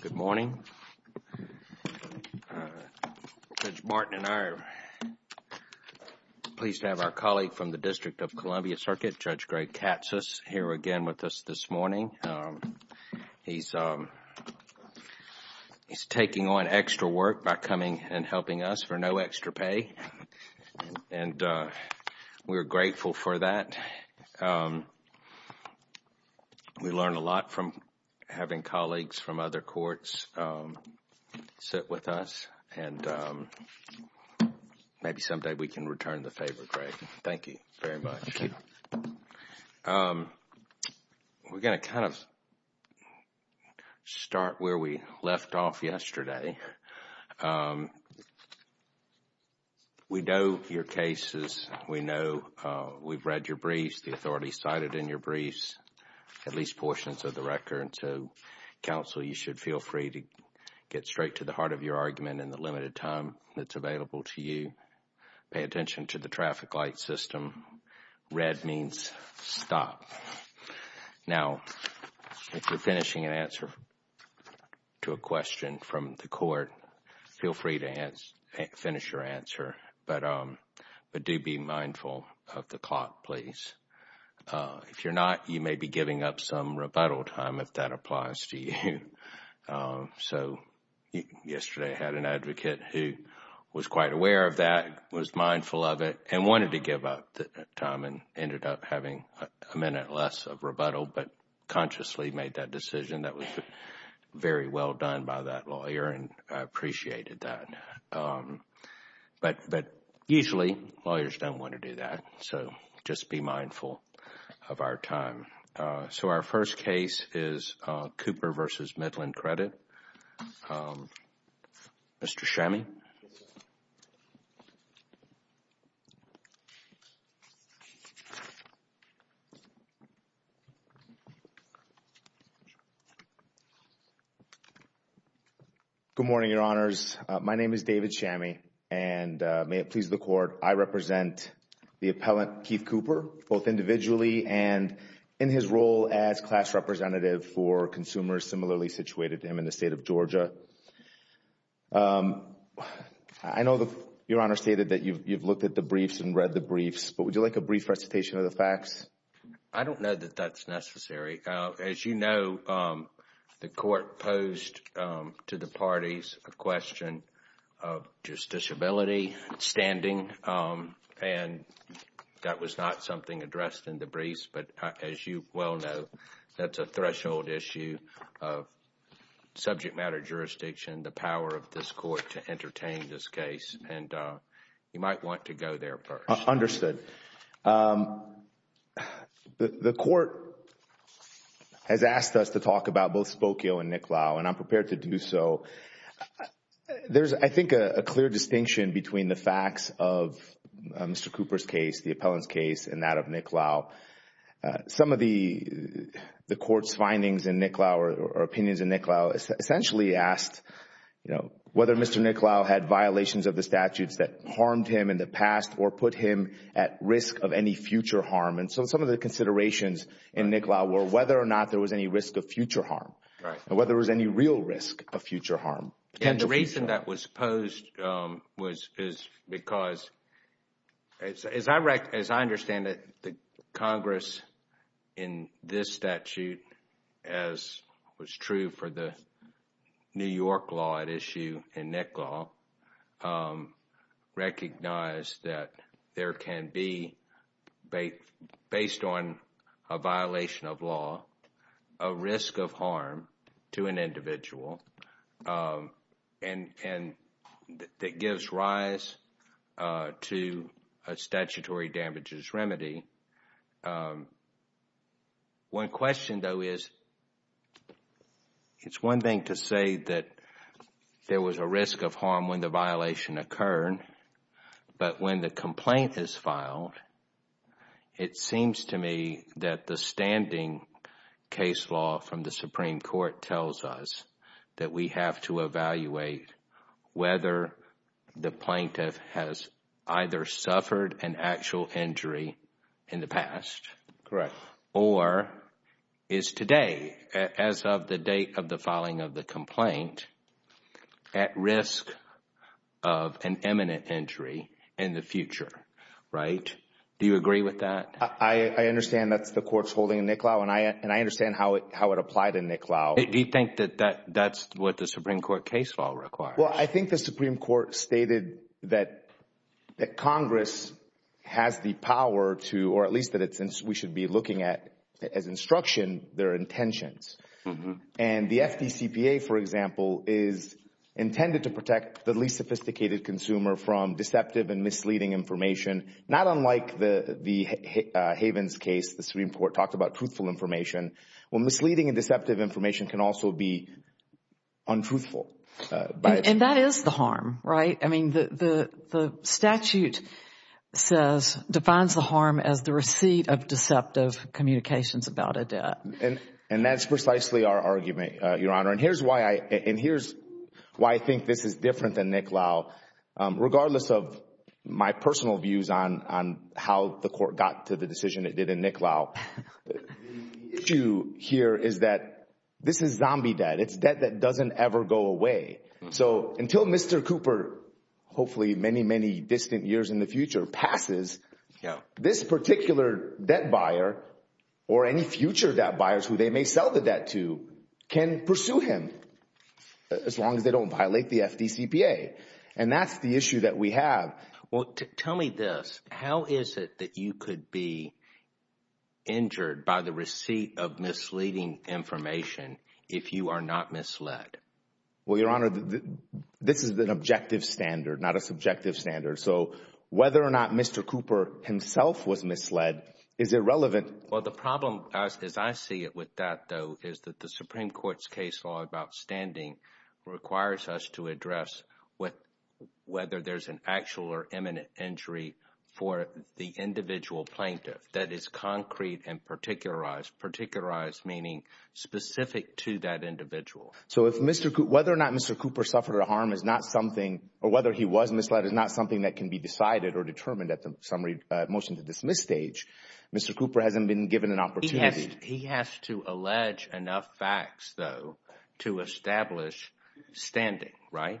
Good morning. Judge Martin and I are pleased to have our colleague from the District of Columbia Circuit, Judge Greg Katsos, here again with us this morning. He's taking on no extra pay, and we're grateful for that. We learn a lot from having colleagues from other courts sit with us, and maybe someday we can return the favor, Greg. Thank you very We know your cases. We know we've read your briefs, the authorities cited in your briefs, at least portions of the record. So, counsel, you should feel free to get straight to the heart of your argument in the limited time that's available to you. Pay attention to the traffic light system. Red means stop. Now, if you're finishing an answer to a question from the court, feel free to finish your answer, but do be mindful of the clock, please. If you're not, you may be giving up some rebuttal time, if that applies to you. So, yesterday I had an advocate who was quite aware of that, was mindful of it, and wanted to give up time and ended up having a minute less of rebuttal, but consciously made that decision that was very well done by that lawyer, and I appreciated that. But usually, lawyers don't want to do that, so just be mindful of our time. So, our first case is Cooper v. Midland Credit. Mr. Chami. Good morning, Your Honors. My name is David Chami, and may it please the Court, I represent the appellant, Keith Cooper, both individually and in his role as class representative for consumers similarly situated to him in the state of Georgia. I know Your Honor stated that you've looked at the briefs and read the briefs, but would you like a brief recitation of the facts? I don't know that that's necessary. As you know, the Court posed to the parties a question of justiciability, standing, and that was not something addressed in the briefs, but as you well know, that's a threshold issue of subject matter jurisdiction, the power of this Court to entertain this case, and you might want to go there first. Understood. The Court has asked us to talk about both Spokio and Nick Lau, and I'm prepared to do so. There's, I think, a clear distinction between the facts of Mr. Cooper's case, the appellant's case, and that of Nick Lau. Some of the Court's findings in Nick Lau or opinions in Nick Lau essentially asked, you know, whether Mr. Nick Lau had violations of the statutes that harmed him in the past or put him at risk of any future harm, and so some of the considerations in Nick Lau were whether or not there was any risk of future harm, and whether there was any real risk of future harm. And the reason that was posed was because, as I understand it, the Congress in this statute, as was true for the New York law at issue in Nick Lau, recognized that there can be, based on a violation of law, a risk of harm to an individual and that gives rise to a statutory damages remedy. One question, though, is, it's one thing to say that there was a risk of harm when the violation occurred, but when the complaint is filed, it seems to me that the standing case law from the Supreme Court tells us that we have to evaluate whether the plaintiff has either suffered an actual injury in the past or is today, as of the date of the filing of the complaint, at risk of an imminent injury in the future, right? Do you agree with that? I understand that's the Court's holding in Nick Lau, and I understand how it applied in Nick Lau. Do you think that that's what the Supreme Court case law requires? Well, I think the Supreme Court stated that Congress has the power to, or at least that we should be looking at, as instruction, their intentions. And the FDCPA, for example, is intended to protect the least sophisticated consumer from deceptive and misleading information, not unlike the Havens case, the Supreme Court talked about truthful information, when misleading and deceptive information can also be untruthful. And that is the harm, right? I mean, the statute defines the harm as the receipt of deceptive communications about a debt. And that's precisely our argument, Your Honor. And here's why I think this is different than Nick Lau. Regardless of my personal views on how the Court got to the decision it did in Nick Lau, the issue here is that this is zombie debt. It's debt that doesn't ever go away. So until Mr. Cooper, hopefully many, many distant years in the future, passes, this particular debt buyer, or any future debt buyers who they may sell the debt to, can pursue him as long as they don't violate the FDCPA. And that's the issue that we have. Well, tell me this. How is it that you could be injured by the receipt of misleading information if you are not misled? Well, Your Honor, this is an objective standard, not a subjective standard. So whether or not Mr. Cooper himself was misled is irrelevant. Well, the problem as I see it with that, though, is that the Supreme Court's case law about standing requires us to address whether there's an actual or imminent injury for the individual plaintiff that is concrete and particularized. Particularized meaning specific to that individual. So whether or not Mr. Cooper suffered a harm is not something, or whether he was misled, is not something that can be decided or determined at the motion to dismiss stage. Mr. Cooper hasn't been given an opportunity. He has to allege enough facts, though, to establish standing, right?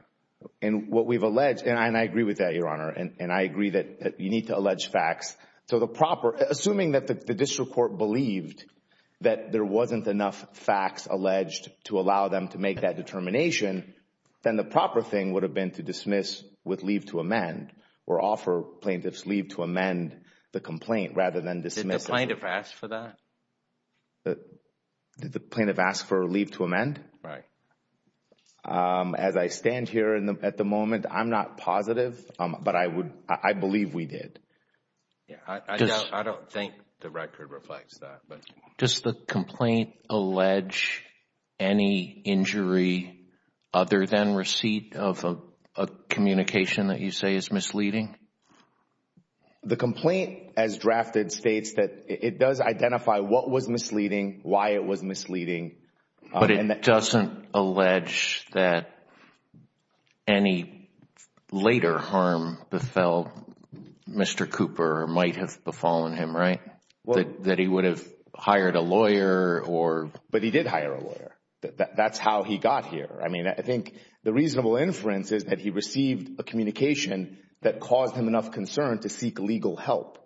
And what we've alleged, and I agree with that, Your Honor, and I agree that you need to allege facts. So the proper, assuming that the district court believed that there wasn't enough facts alleged to allow them to make that determination, then the proper thing would have been to dismiss with leave to amend, or offer plaintiffs leave to amend the complaint rather than dismiss. Did the plaintiff ask for that? Did the plaintiff ask for leave to amend? Right. As I stand here at the moment, I'm not positive, but I believe we did. Yeah, I don't think the record reflects that, but... Does the complaint allege any injury other than receipt of a communication that you say is misleading? The complaint, as drafted, states that it does identify what was misleading, why it was misleading. But it doesn't allege that any later harm befell Mr. Cooper, or might have befallen him, right? That he would have hired a lawyer, or... But he did hire a lawyer. That's how he got here. I mean, I think the reasonable inference is that he received a communication that caused him enough concern to seek legal help.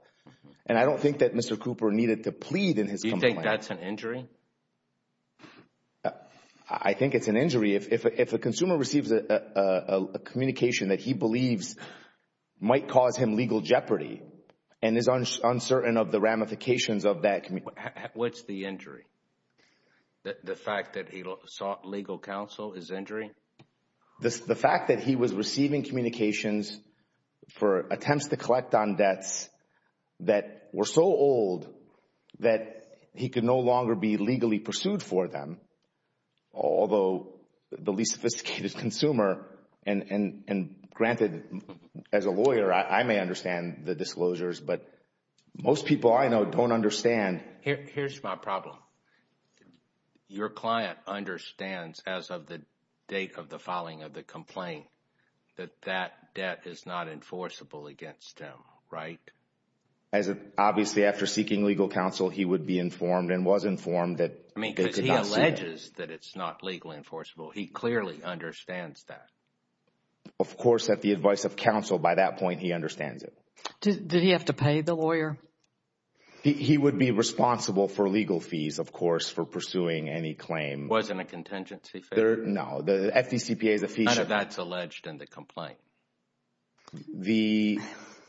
And I don't think that Mr. Cooper needed to plead in his complaint. Do you think that's an injury? I think it's an injury. If a consumer receives a communication that he believes might cause him legal jeopardy, and is uncertain of the ramifications of that... What's the injury? The fact that he sought legal counsel is injury? The fact that he was receiving communications for attempts to collect on debts that were so old that he could no longer be legally pursued for them, although the least sophisticated consumer... And granted, as a lawyer, I may understand the disclosures, but most people I know don't understand. Here's my problem. Your client understands, as of the date of the filing of the complaint, that that debt is not enforceable against him, right? Obviously, after seeking legal counsel, he would be informed and was informed that... I mean, because he alleges that it's not legally enforceable. He clearly understands that. Of course, at the advice of counsel, by that point, he understands it. Did he have to pay the lawyer? He would be responsible for legal fees, of course, for pursuing any claim. Wasn't a contingency fee? No. The FDCPA is a fee... None of that's alleged in the complaint. The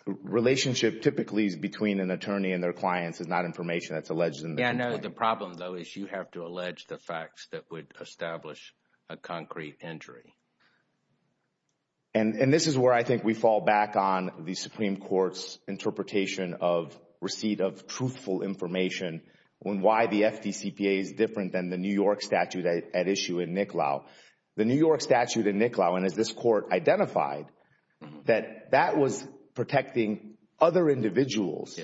relationship typically is between an attorney and their clients. It's not information that's alleged in the complaint. Yeah, no. The problem, though, is you have to allege the facts that would establish a concrete injury. And this is where I think we fall back on the Supreme Court's interpretation of receipt of truthful information on why the FDCPA is different than the New York statute at issue in NICLAO. The New York statute in NICLAO, and as this court identified, that that was protecting other individuals.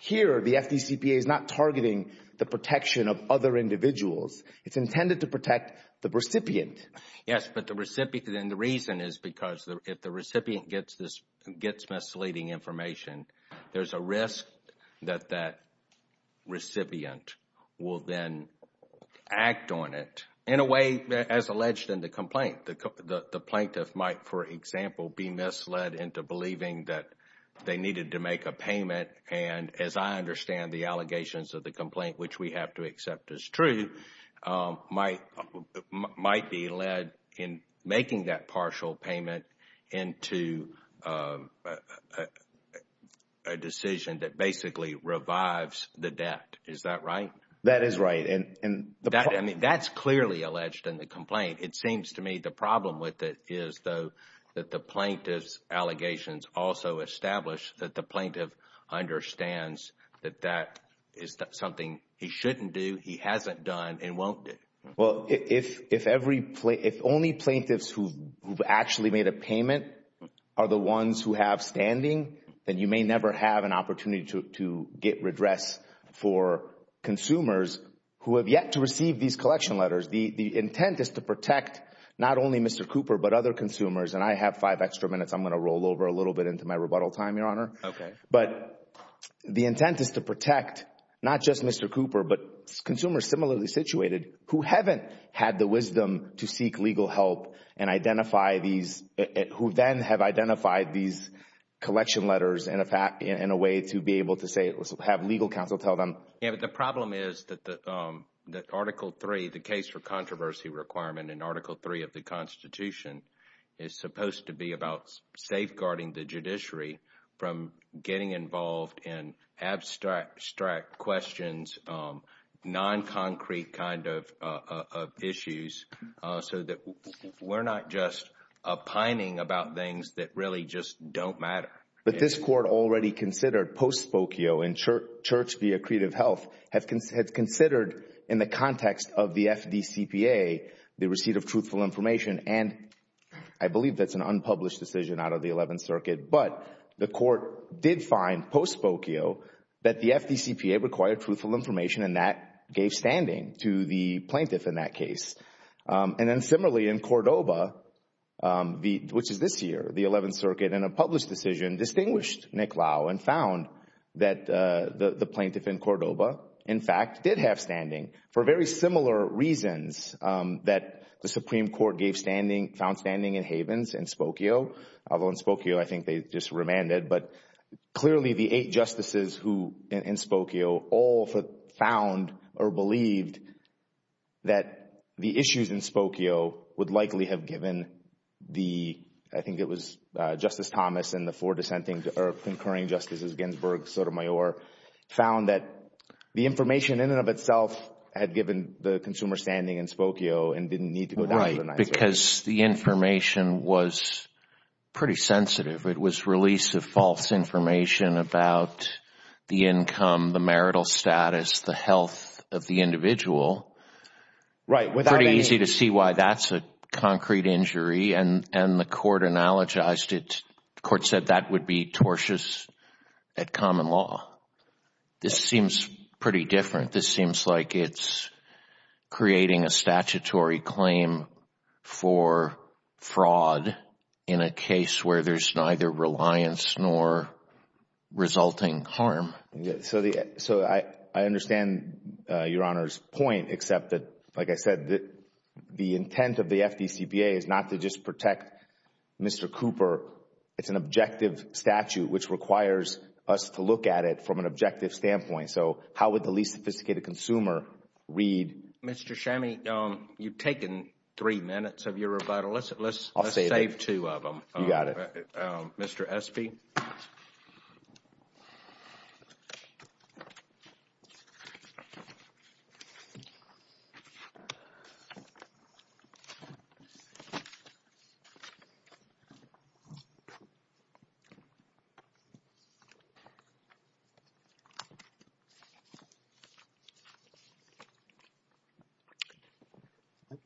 Here, the FDCPA is not targeting the protection of other individuals. It's intended to protect the recipient. Yes, but then the reason is because if the recipient gets misleading information, there's a risk that that recipient will then act on it in a way as alleged in the complaint. The plaintiff might, for example, be misled into believing that they needed to make a payment and, as I understand the allegations of the complaint, which we have to accept as true, might be led in making that partial payment into a decision that basically revives the debt. Is that right? That is right. I mean, that's clearly alleged in the complaint. It seems to me the problem with it is, though, that the plaintiff's allegations also establish that the plaintiff understands that that is something he shouldn't do, he hasn't done, and won't do. Well, if only plaintiffs who've actually made a payment are the ones who have standing, then you may never have an opportunity to get redress for consumers who have yet to receive these collection letters. The intent is to protect not only Mr. Cooper, but other consumers. And I have five extra minutes. I'm going to roll over a little bit into my rebuttal time, Your Honor. Okay. But the intent is to protect not just Mr. Cooper, but consumers similarly situated who haven't had the wisdom to seek legal help and identify these, who then have identified these collection letters in a way to be able to have legal counsel tell them. Yeah, but the problem is that Article III, the case for controversy requirement in Article III of the Constitution, is supposed to be about safeguarding the judiciary from getting involved in abstract questions, non-concrete kind of issues, so that we're not just pining about things that really just don't matter. But this Court already considered, post-Spokio and Church v. Accretive Health, had considered in the context of the FDCPA, the receipt of truthful information, and I believe that's an unpublished decision out of the Eleventh Circuit. But the Court did find, post-Spokio, that the FDCPA required truthful information and that gave standing to the plaintiff in that case. And then similarly, in Cordoba, which is this year, the Eleventh Circuit, in a published decision, distinguished Nick Lau and found that the plaintiff in Cordoba, in fact, did have standing for very similar reasons that the Supreme Court found standing in Havens in Spokio. Although in Spokio, I think they just remanded. But clearly, the eight justices in Spokio all found or believed that the issues in Spokio would likely have given the—I think it was Justice Thomas and the four concurring justices, Ginsburg, Sotomayor, found that the information in and of itself had given the consumer standing in Spokio and didn't need to go down to the ninth circuit. Right. Because the information was pretty sensitive. It was release of false information about the income, the marital status, the health of the individual. Right. Pretty easy to see why that's a concrete injury. And the court analogized it. The court said that would be tortious at common law. This seems pretty different. This seems like it's creating a statutory claim for fraud in a case where there's neither reliance nor resulting harm. So I understand Your Honor's point, except that, like I said, the intent of the FDCPA is not to just protect Mr. Cooper. It's an objective statute which requires us to look at it from an objective standpoint. So how would the least sophisticated consumer read— Mr. Chami, you've taken three minutes of your rebuttal. I'll save it. Let's save two of them. You got it. Mr. Espy.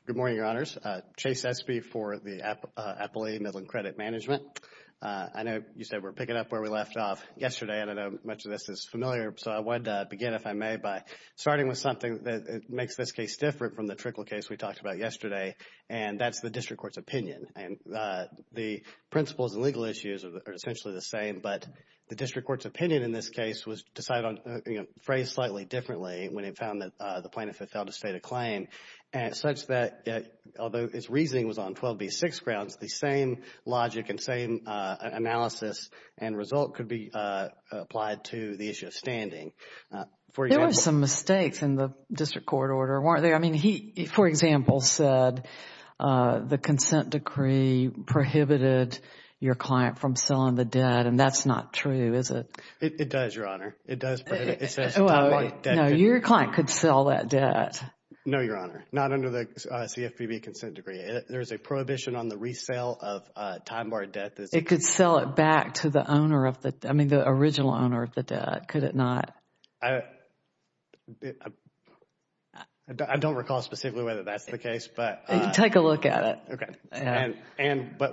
Good morning, Your Honors. Chase Espy for the Appalachian Midland Credit Management. I know you said we're picking up where we left off yesterday. I don't know if much of this is familiar. So I wanted to begin, if I may, by starting with something that makes this case different from the trickle case we talked about yesterday. And that's the district court's opinion. And the principles and legal issues are essentially the same. But the district court's opinion in this case was decided on, you know, phrased slightly differently when it found that the plaintiff had failed to state a claim, such that although its reasoning was on 12B6 grounds, the same logic and same analysis and result could be applied to the issue of standing. There were some mistakes in the district court order, weren't there? I mean, he, for example, said the consent decree prohibited your client from selling the debt. And that's not true, is it? It does, Your Honor. It does prohibit. It says time-barred debt. No, your client could sell that debt. No, Your Honor. Not under the CFPB consent decree. There is a prohibition on the resale of time-barred debt. It could sell it back to the owner of the, I mean, the original owner of the debt. Could it not? I don't recall specifically whether that's the case, but. You can take a look at it. Okay. And, but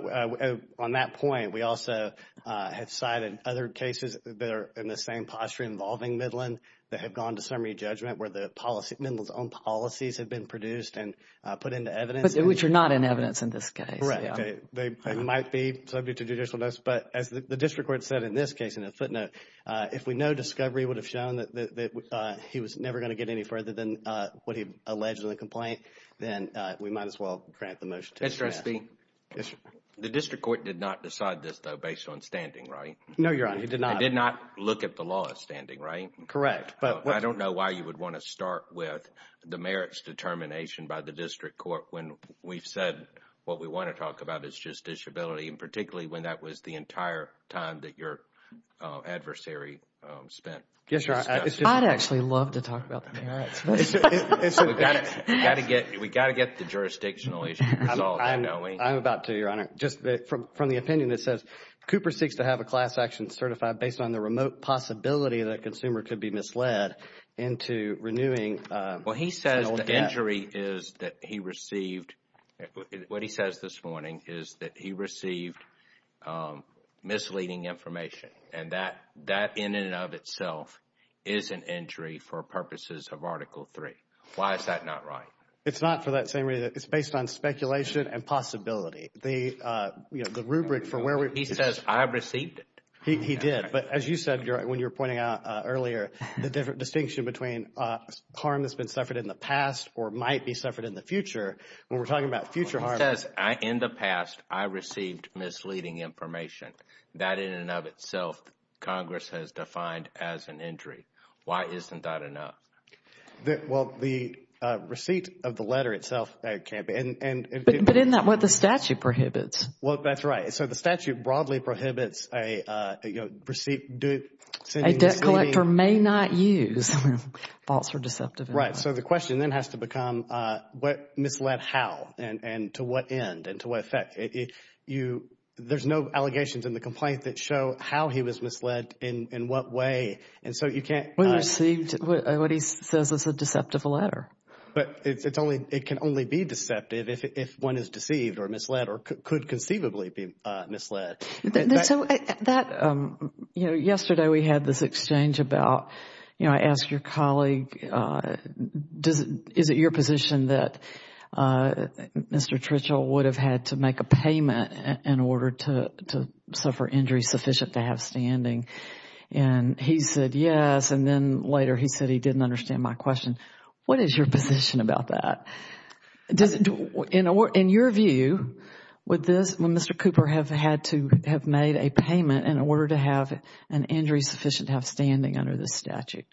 on that point, we also have cited other cases that are in the same posture involving Midland that have gone to summary judgment where the policy, Midland's own policies have been produced and put into evidence. Which are not in evidence in this case. Correct. They might be subject to judicial notice. But as the district court said in this case, in a footnote, if we know discovery would have shown that he was never going to get any further than what he alleged in the complaint, then we might as well grant the motion to pass. Mr. Espy. The district court did not decide this though based on standing, right? No, Your Honor. It did not. It did not look at the law standing, right? Correct. But I don't know why you would want to start with the merits determination by the district court when we've said what we want to talk about is just disability and particularly when that was the entire time that your adversary spent. I'd actually love to talk about the merits. We've got to get the jurisdictional issue resolved. I'm about to, Your Honor. Just from the opinion that says Cooper seeks to have a class action certified based on the remote possibility that a consumer could be misled into renewing. Well, he says the injury is that he received, what he says this morning is that he received misleading information and that in and of itself is an injury for purposes of Article 3. Why is that not right? It's not for that same reason. It's based on speculation and possibility. The rubric for where we... He says I received it. He did. But as you said when you were pointing out earlier the different distinction between harm that's been suffered in the past or might be suffered in the future when we're talking about future harm... In the past, I received misleading information. That in and of itself, Congress has defined as an injury. Why isn't that enough? Well, the receipt of the letter itself can't be... But isn't that what the statute prohibits? Well, that's right. So the statute broadly prohibits a receipt... A debt collector may not use false or deceptive... Right. The question then has to become what misled how and to what end and to what effect? There's no allegations in the complaint that show how he was misled in what way. We received what he says is a deceptive letter. But it can only be deceptive if one is deceived or misled or could conceivably be misled. And so yesterday we had this exchange about, I asked your colleague, is it your position that Mr. Tritchell would have had to make a payment in order to suffer injury sufficient to have standing? And he said yes. And then later he said he didn't understand my question. What is your position about that? In your view, would this Mr. Cooper have had to have made a payment in order to have an injury sufficient to have standing under the statute?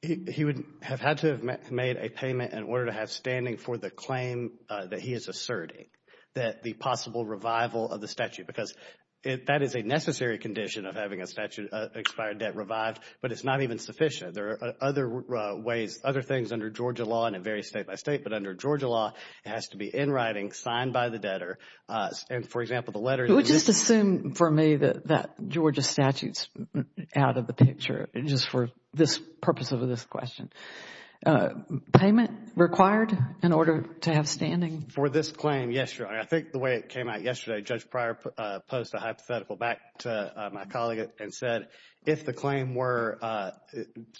He would have had to have made a payment in order to have standing for the claim that he is asserting that the possible revival of the statute, because that is a necessary condition of having a statute expired debt revived. But it's not even sufficient. There are other ways, other things under Georgia law and it varies state by state. But under Georgia law, it has to be in writing, signed by the debtor. And for example, the letter. You would just assume for me that that Georgia statute is out of the picture just for this purpose of this question. Payment required in order to have standing? For this claim, yes. I think the way it came out yesterday, Judge Pryor posed a hypothetical back to my colleague and said if the claim were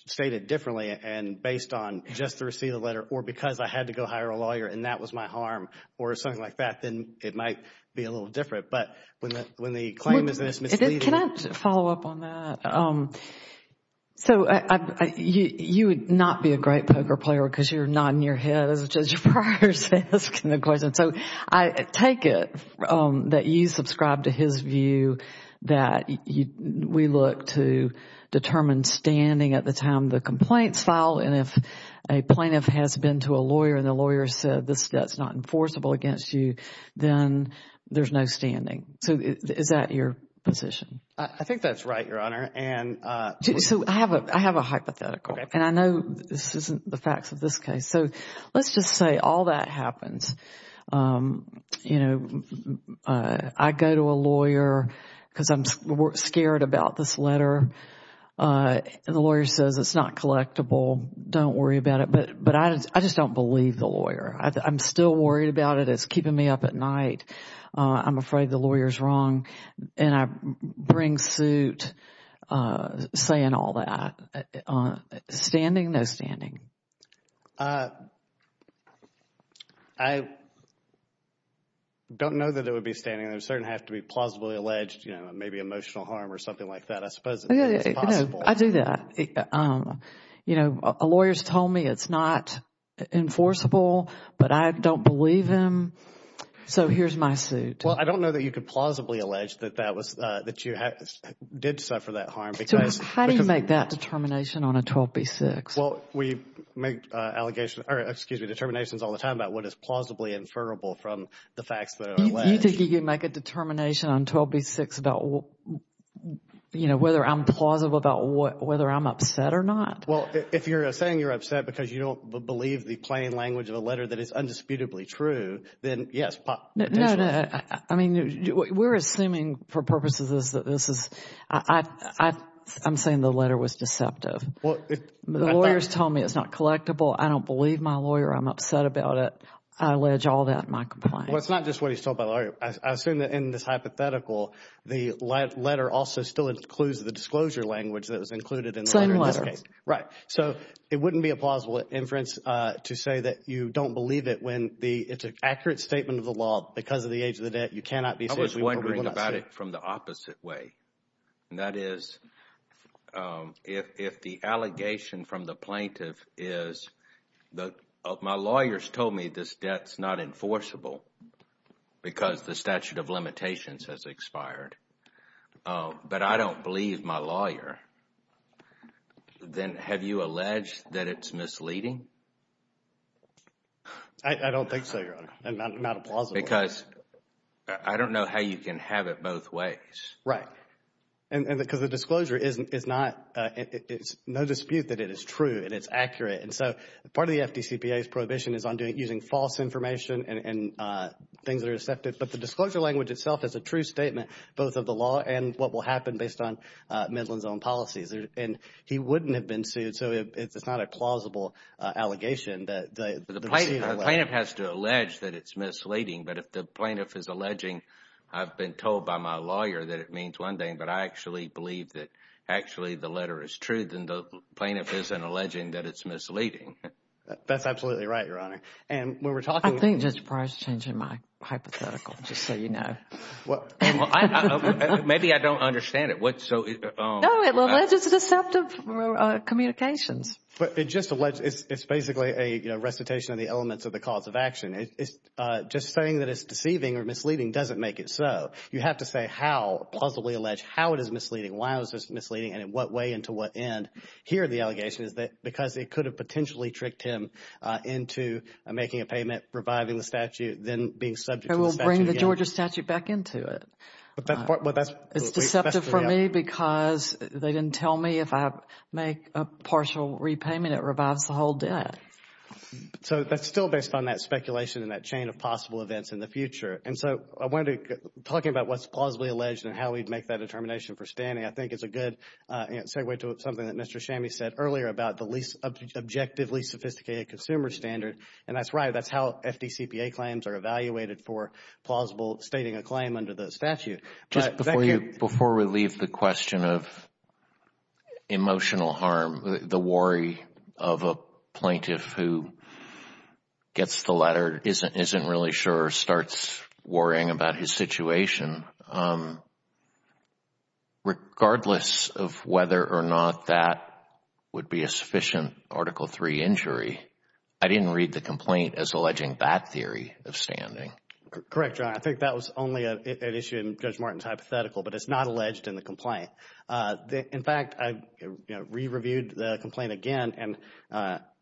stated differently and based on just the receipt of the letter or because I had to go hire a lawyer and that was my harm or something like that, then it might be a little different. But when the claim is misleading. Can I follow up on that? So you would not be a great poker player because you are nodding your head as Judge Pryor is asking the question. So I take it that you subscribe to his view that we look to determine standing at the time the complaint is filed and if a plaintiff has been to a lawyer and the lawyer said this debt is not enforceable against you, then there is no standing. So is that your position? I think that is right, Your Honor. I have a hypothetical and I know this is not the facts of this case. So let's just say all that happens. I go to a lawyer because I am scared about this letter. And the lawyer says it is not collectible. Don't worry about it. But I just don't believe the lawyer. I am still worried about it. It is keeping me up at night. I am afraid the lawyer is wrong. And I bring suit saying all that. Standing, no standing? I don't know that it would be standing. There would certainly have to be plausibly alleged, you know, maybe emotional harm or something like that. Yeah, I do that. You know, a lawyer has told me it is not enforceable, but I don't believe him. So here is my suit. Well, I don't know that you could plausibly allege that you did suffer that harm. How do you make that determination on a 12B6? Well, we make allegations, or excuse me, determinations all the time about what is plausibly inferrable from the facts that are alleged. You think you can make a determination on 12B6 about, you know, whether I am plausible about whether I am upset or not? Well, if you are saying you are upset because you don't believe the plain language of a letter that is undisputably true, then yes, potentially. No, no. I mean, we are assuming for purposes that this is, I am saying the letter was deceptive. The lawyer has told me it is not collectible. I don't believe my lawyer. I am upset about it. I allege all that in my complaint. Well, it is not just what he has told my lawyer. I assume that in this hypothetical, the letter also still includes the disclosure language that was included in the letter in this case. Same letter. Right. So it wouldn't be a plausible inference to say that you don't believe it when it is an accurate statement of the law. Because of the age of the debt, you cannot be saying we were willing not to say it. I was wondering about it from the opposite way. And that is, if the allegation from the plaintiff is, my lawyers told me this debt is not enforceable. Because the statute of limitations has expired. But I don't believe my lawyer. Then have you alleged that it is misleading? I don't think so, Your Honor. And not a plausible. Because I don't know how you can have it both ways. Right. And because the disclosure is not, it is no dispute that it is true and it is accurate. And so part of the FDCPA's prohibition is on using false information and things that are accepted. But the disclosure language itself is a true statement, both of the law and what will happen based on Midland's own policies. And he wouldn't have been sued. So it's not a plausible allegation. The plaintiff has to allege that it's misleading. But if the plaintiff is alleging, I've been told by my lawyer that it means one thing. But I actually believe that actually the letter is true. And the plaintiff isn't alleging that it's misleading. That's absolutely right, Your Honor. And when we're talking. I think Judge Breyer is changing my hypothetical, just so you know. Maybe I don't understand it. What so? No, it alleges deceptive communications. But it just alleges, it's basically a recitation of the elements of the cause of action. It's just saying that it's deceiving or misleading doesn't make it so. You have to say how, plausibly allege how it is misleading. Why was this misleading? And in what way and to what end? Here, the allegation is that because it could have potentially tricked him into making a payment, reviving the statute, then being subject. And we'll bring the Georgia statute back into it. It's deceptive for me because they didn't tell me if I make a partial repayment, it revives the whole debt. So that's still based on that speculation and that chain of possible events in the future. And so I wanted to talk about what's plausibly alleged and how we'd make that determination for standing. I think it's a good segue to something that Mr. Shammi said earlier about the least objectively sophisticated consumer standard. And that's right. That's how FDCPA claims are evaluated for plausible stating a claim under the statute. Just before we leave the question of emotional harm, the worry of a plaintiff who gets the letter, isn't really sure, starts worrying about his situation. Regardless of whether or not that would be a sufficient Article III injury, I didn't read the complaint as alleging that theory of standing. Correct, John. I think that was only an issue in Judge Martin's hypothetical, but it's not alleged in the complaint. In fact, I re-reviewed the complaint again, and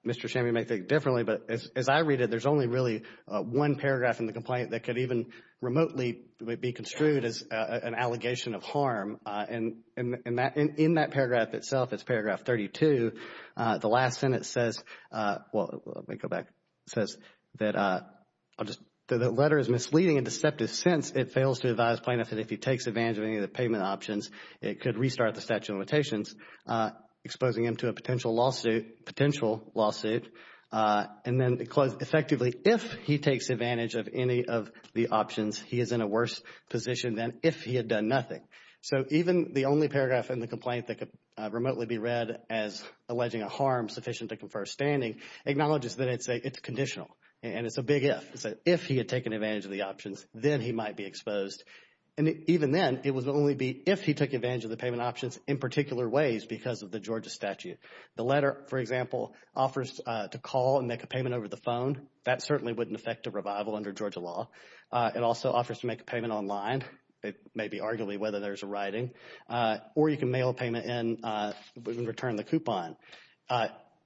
Mr. Shammi may think differently, but as I read it, there's only really one paragraph in the complaint that could even remotely be construed as an allegation of harm. And in that paragraph itself, it's paragraph 32. The last sentence says, well, let me go back. It says that the letter is misleading in a deceptive sense. It fails to advise plaintiffs that if he takes advantage of any of the payment options, it could restart the statute of limitations, exposing him to a potential lawsuit, potential lawsuit. And then it closed, effectively, if he takes advantage of any of the options, he is in a worse position than if he had done nothing. So even the only paragraph in the complaint that could remotely be read as alleging a harm sufficient to confer standing, acknowledges that it's conditional, and it's a big if. If he had taken advantage of the options, then he might be exposed. And even then, it would only be if he took advantage of the payment options in particular ways because of the Georgia statute. The letter, for example, offers to call and make a payment over the phone. That certainly wouldn't affect a revival under Georgia law. It also offers to make a payment online. It may be arguably whether there's a writing. Or you can mail a payment in and return the coupon.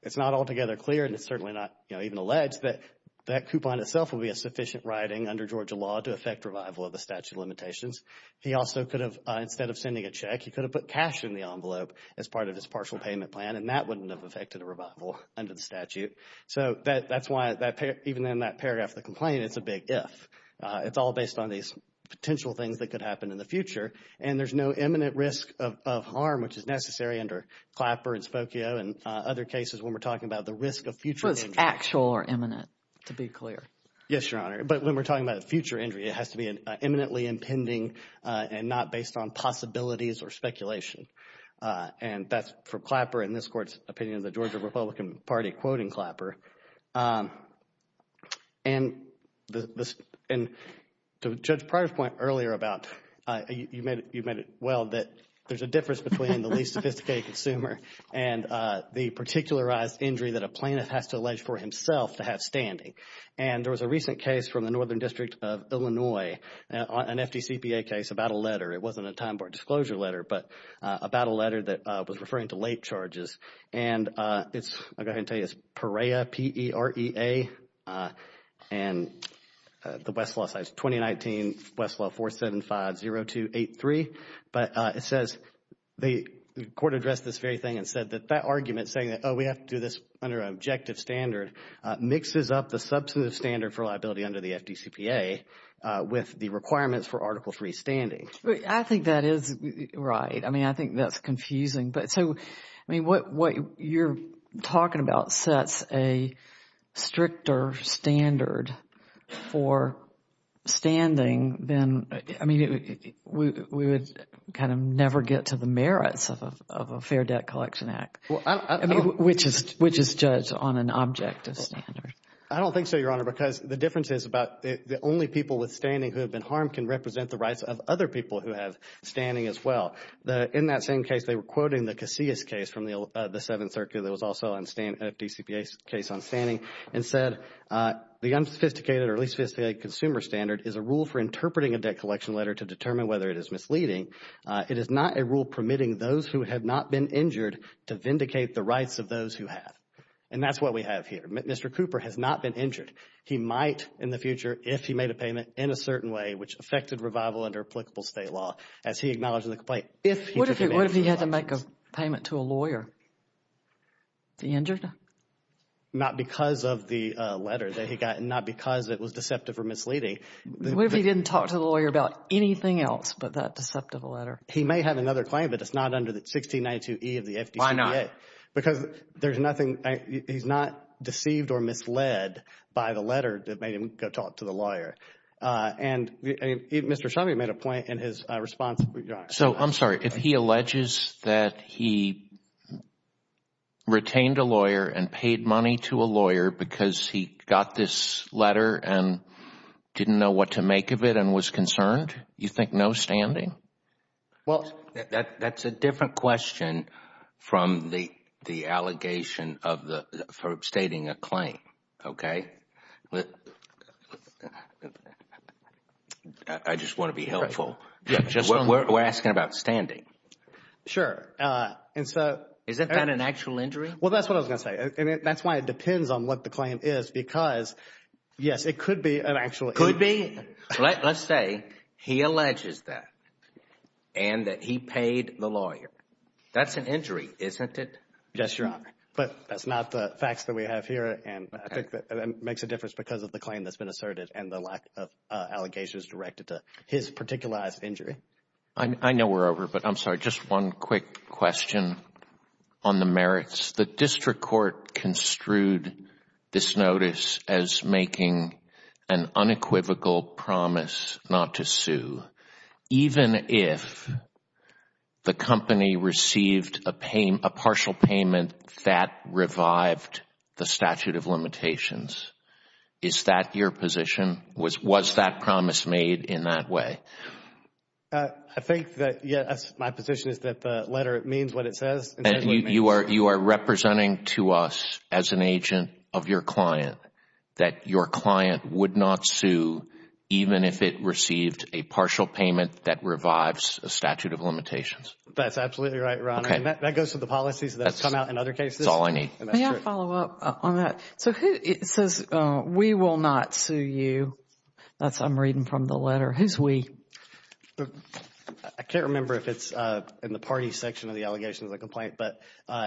It's not altogether clear, and it's certainly not even alleged, that that coupon itself will be a sufficient writing under Georgia law to affect revival of the statute of limitations. He also could have, instead of sending a check, he could have put cash in the envelope as part of his partial payment plan. And that wouldn't have affected a revival under the statute. So that's why even in that paragraph of the complaint, it's a big if. It's all based on these potential things that could happen in the future. And there's no imminent risk of harm, which is necessary under Clapper and Spokio and other cases when we're talking about the risk of future injury. So it's actual or imminent, to be clear. Yes, Your Honor. But when we're talking about a future injury, it has to be imminently impending and not based on possibilities or speculation. And that's for Clapper, in this Court's opinion, the Georgia Republican Party quoting Clapper. And Judge Pryor's point earlier about, you made it well, that there's a difference between the least sophisticated consumer and the particularized injury that a plaintiff has to allege for himself to have standing. And there was a recent case from the Northern District of Illinois, an FDCPA case about a letter. It wasn't a time-barred disclosure letter, but about a letter that was referring to late charges. And it's, I'll go ahead and tell you, it's Perea, P-E-R-E-A. And the Westlaw side is 2019, Westlaw 475-0283. But it says, the Court addressed this very thing and said that that argument, saying that, oh, we have to do this under an objective standard, mixes up the substantive standard for liability under the FDCPA with the requirements for Article III standing. I think that is right. I mean, I think that's confusing. But so, I mean, what you're talking about sets a stricter standard for standing than, I mean, we would kind of never get to the merits of a Fair Debt Collection Act, which is judged on an objective standard. I don't think so, Your Honor, because the difference is about the only people with standing who have been harmed can represent the rights of other people who have standing as well. In that same case, they were quoting the Casillas case from the Seventh Circuit that was also on FDCPA's case on standing and said, the unsophisticated or least sophisticated consumer standard is a rule for interpreting a debt collection letter to determine whether it is misleading. It is not a rule permitting those who have not been injured to vindicate the rights of those who have. And that's what we have here. Mr. Cooper has not been injured. He might in the future if he made a payment in a certain way, which affected revival under applicable state law, as he acknowledged in the complaint. What if he had to make a payment to a lawyer? Is he injured? Not because of the letter that he got. Not because it was deceptive or misleading. What if he didn't talk to the lawyer about anything else but that deceptive letter? He may have another claim, but it's not under the 1692E of the FDCPA. Why not? Because there's nothing, he's not deceived or misled by the letter that made him go talk to the lawyer. And Mr. Shumvey made a point in his response. So I'm sorry, if he alleges that he retained a lawyer and paid money to a lawyer because he got this letter and didn't know what to make of it and was concerned, you think no standing? Well, that's a different question from the allegation of stating a claim, okay? I just want to be helpful. We're asking about standing. Sure. Isn't that an actual injury? Well, that's what I was going to say. That's why it depends on what the claim is because, yes, it could be an actual injury. Could be. Let's say he alleges that. And that he paid the lawyer. That's an injury, isn't it? Yes, Your Honor. But that's not the facts that we have here. And I think that makes a difference because of the claim that's been asserted and the lack of allegations directed to his particularized injury. I know we're over, but I'm sorry, just one quick question on the merits. The district court construed this notice as making an unequivocal promise not to sue. Even if the company received a partial payment that revived the statute of limitations. Is that your position? Was that promise made in that way? I think that, yes, my position is that the letter means what it says. You are representing to us as an agent of your client that your client would not sue even if it received a partial payment that revives a statute of limitations. That's absolutely right, Your Honor. And that goes to the policies that come out in other cases. That's all I need. May I follow up on that? So who, it says, we will not sue you. That's, I'm reading from the letter. Who's we? I can't remember if it's in the party section of the allegations of the complaint, but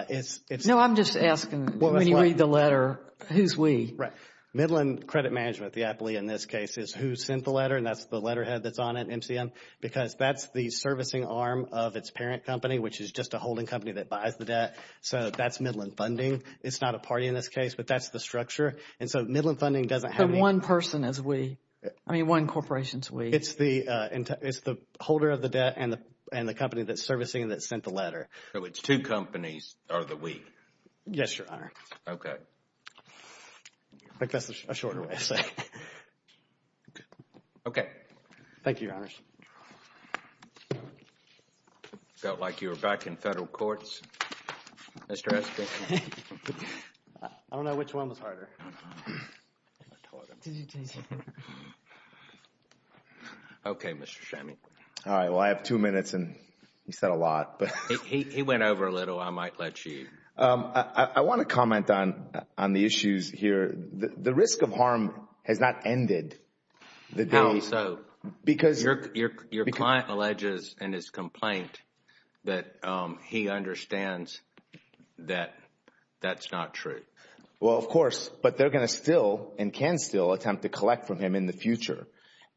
it's. No, I'm just asking when you read the letter, who's we? Right. Midland Credit Management, the appellee in this case, is who sent the letter. And that's the letterhead that's on it, MCM, because that's the servicing arm of its parent company, which is just a holding company that buys the debt. So that's Midland Funding. It's not a party in this case, but that's the structure. And so Midland Funding doesn't have any. The one person is we. I mean, one corporation is we. It's the, it's the holder of the debt and the company that's servicing that sent the letter. So it's two companies are the we? Yes, Your Honor. Okay. I think that's a shorter way of saying it. Okay. Thank you, Your Honors. Felt like you were back in federal courts, Mr. Espin. I don't know which one was harder. Okay, Mr. Chammy. All right. Well, I have two minutes, and you said a lot. He went over a little. I might let you. I want to comment on the issues here. The risk of harm has not ended. How so? Your client alleges in his complaint that he understands that that's not true. Well, of course. But they're going to still and can still attempt to collect from him in the future.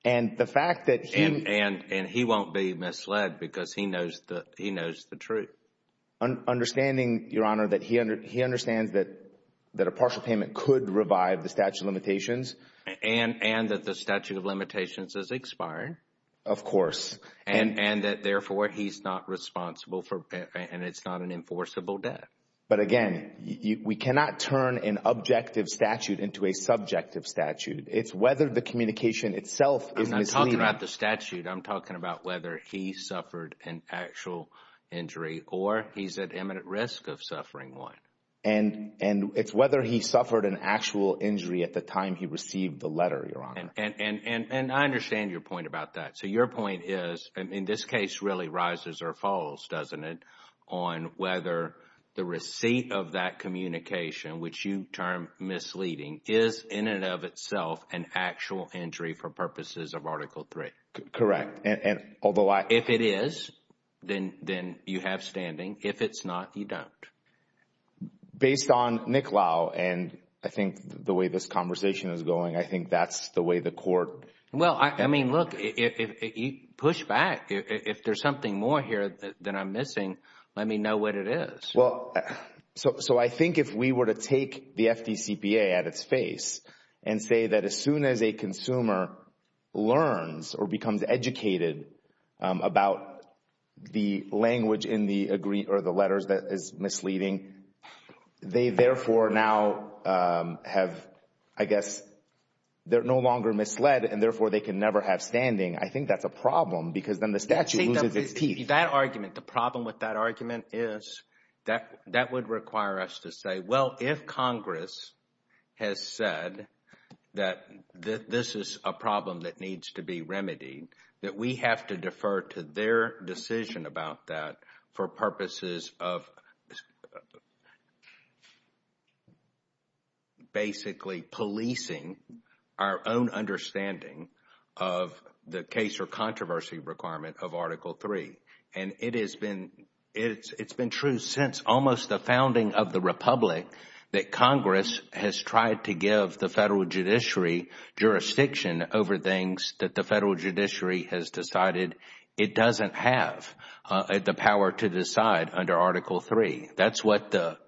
And the fact that he... And he won't be misled because he knows the truth. Understanding, Your Honor, that he understands that a partial payment could revive the statute of limitations. And that the statute of limitations is expired. Of course. And that, therefore, he's not responsible for... and it's not an enforceable death. But again, we cannot turn an objective statute into a subjective statute. It's whether the communication itself is misleading. I'm not talking about the statute. I'm talking about whether he suffered an actual injury or he's at imminent risk of suffering one. And it's whether he suffered an actual injury at the time he received the letter, Your Honor. And I understand your point about that. So your point is, and in this case really rises or falls, doesn't it, on whether the receipt of that communication, which you term misleading, is in and of itself an actual injury for purposes of Article III. Correct. And although I... If it is, then you have standing. If it's not, you don't. Based on Nick Lau and I think the way this conversation is going, I think that's the way the Court... Well, I mean, look, push back. If there's something more here that I'm missing, let me know what it is. Well, so I think if we were to take the FDCPA at its face and say that as soon as a consumer learns or becomes educated about the language in the agree... or the letters that is misleading, they therefore now have, I guess, they're no longer misled and therefore they can never have standing, I think that's a problem because then the statute loses its teeth. That argument, the problem with that argument is that would require us to say, well, if Congress has said that this is a problem that needs to be remedied, that we have to defer to their decision about that for purposes of basically policing our own understanding of the case or controversy requirement of Article III. It has been true since almost the founding of the Republic that Congress has tried to give the Federal Judiciary jurisdiction over things that the Federal Judiciary has decided it doesn't have the power to decide under Article III. That's what the...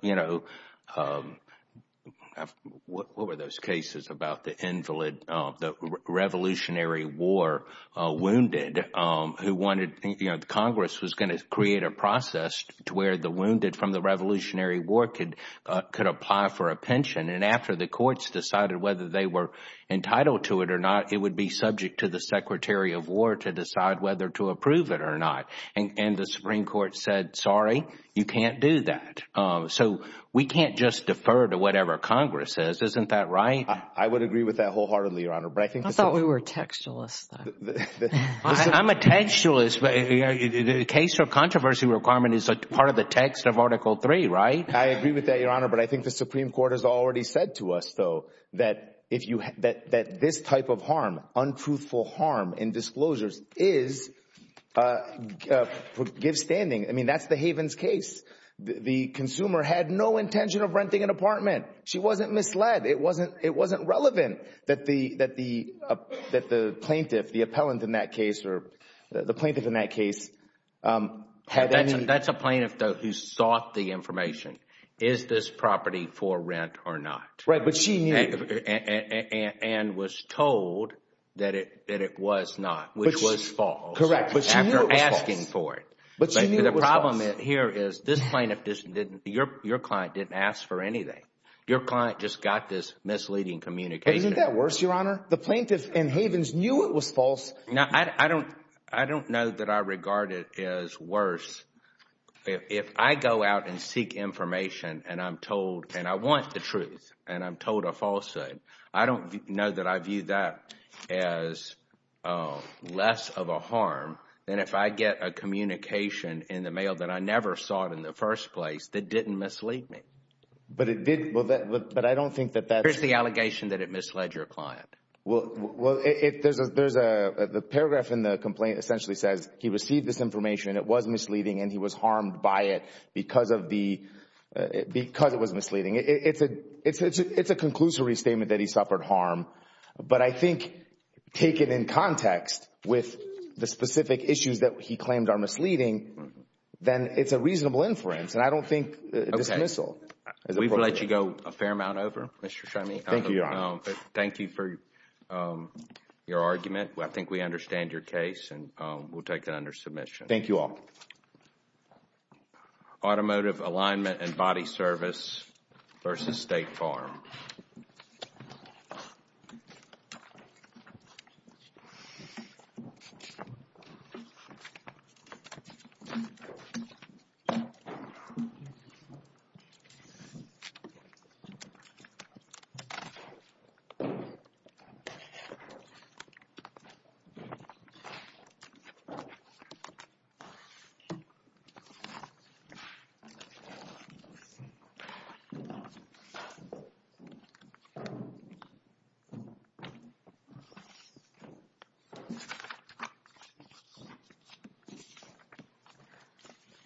what were those cases about the invalid, the revolutionary war wounded who wanted... Congress was going to create a process to where the wounded from the Revolutionary War could apply for a pension. After the courts decided whether they were entitled to it or not, it would be subject to the Secretary of War to decide whether to approve it or not. The Supreme Court said, sorry, you can't do that. We can't just defer to whatever Congress says. Isn't that right? I would agree with that wholeheartedly, Your Honor. I thought we were textualists. I'm a textualist, but the case or controversy requirement is a part of the text of Article III, right? I agree with that, Your Honor, but I think the Supreme Court has already said to us, though, that this type of harm, untruthful harm in disclosures is give standing. That's the Havens case. The consumer had no intention of renting an apartment. She wasn't misled. It wasn't relevant that the plaintiff, the appellant in that case, or the plaintiff in that case had any. That's a plaintiff, though, who sought the information. Is this property for rent or not? Right, but she knew. And was told that it was not, which was false. Correct, but she knew it was false. After asking for it. But she knew it was false. The problem here is this plaintiff, your client didn't ask for anything. Your client just got this misleading communication. Isn't that worse, Your Honor? The plaintiff in Havens knew it was false. Now, I don't know that I regard it as worse if I go out and seek information and I'm told, and I want the truth, and I'm told a falsehood. I don't know that I view that as less of a harm than if I get a communication in the mail that I never saw it in the first place that didn't mislead me. But it did, but I don't think that that's... Where's the allegation that it misled your client? Well, there's a paragraph in the complaint that essentially says he received this information, it was misleading, and he was harmed by it because it was misleading. It's a conclusory statement that he suffered harm. But I think taken in context with the specific issues that he claimed are misleading, then it's a reasonable inference, and I don't think dismissal. We've let you go a fair amount over, Mr. Cheney. Thank you, Your Honor. Thank you for your argument. I think we understand your case, and we'll take it under submission. Thank you all. Automotive Alignment and Body Service versus State Farm. Thank you.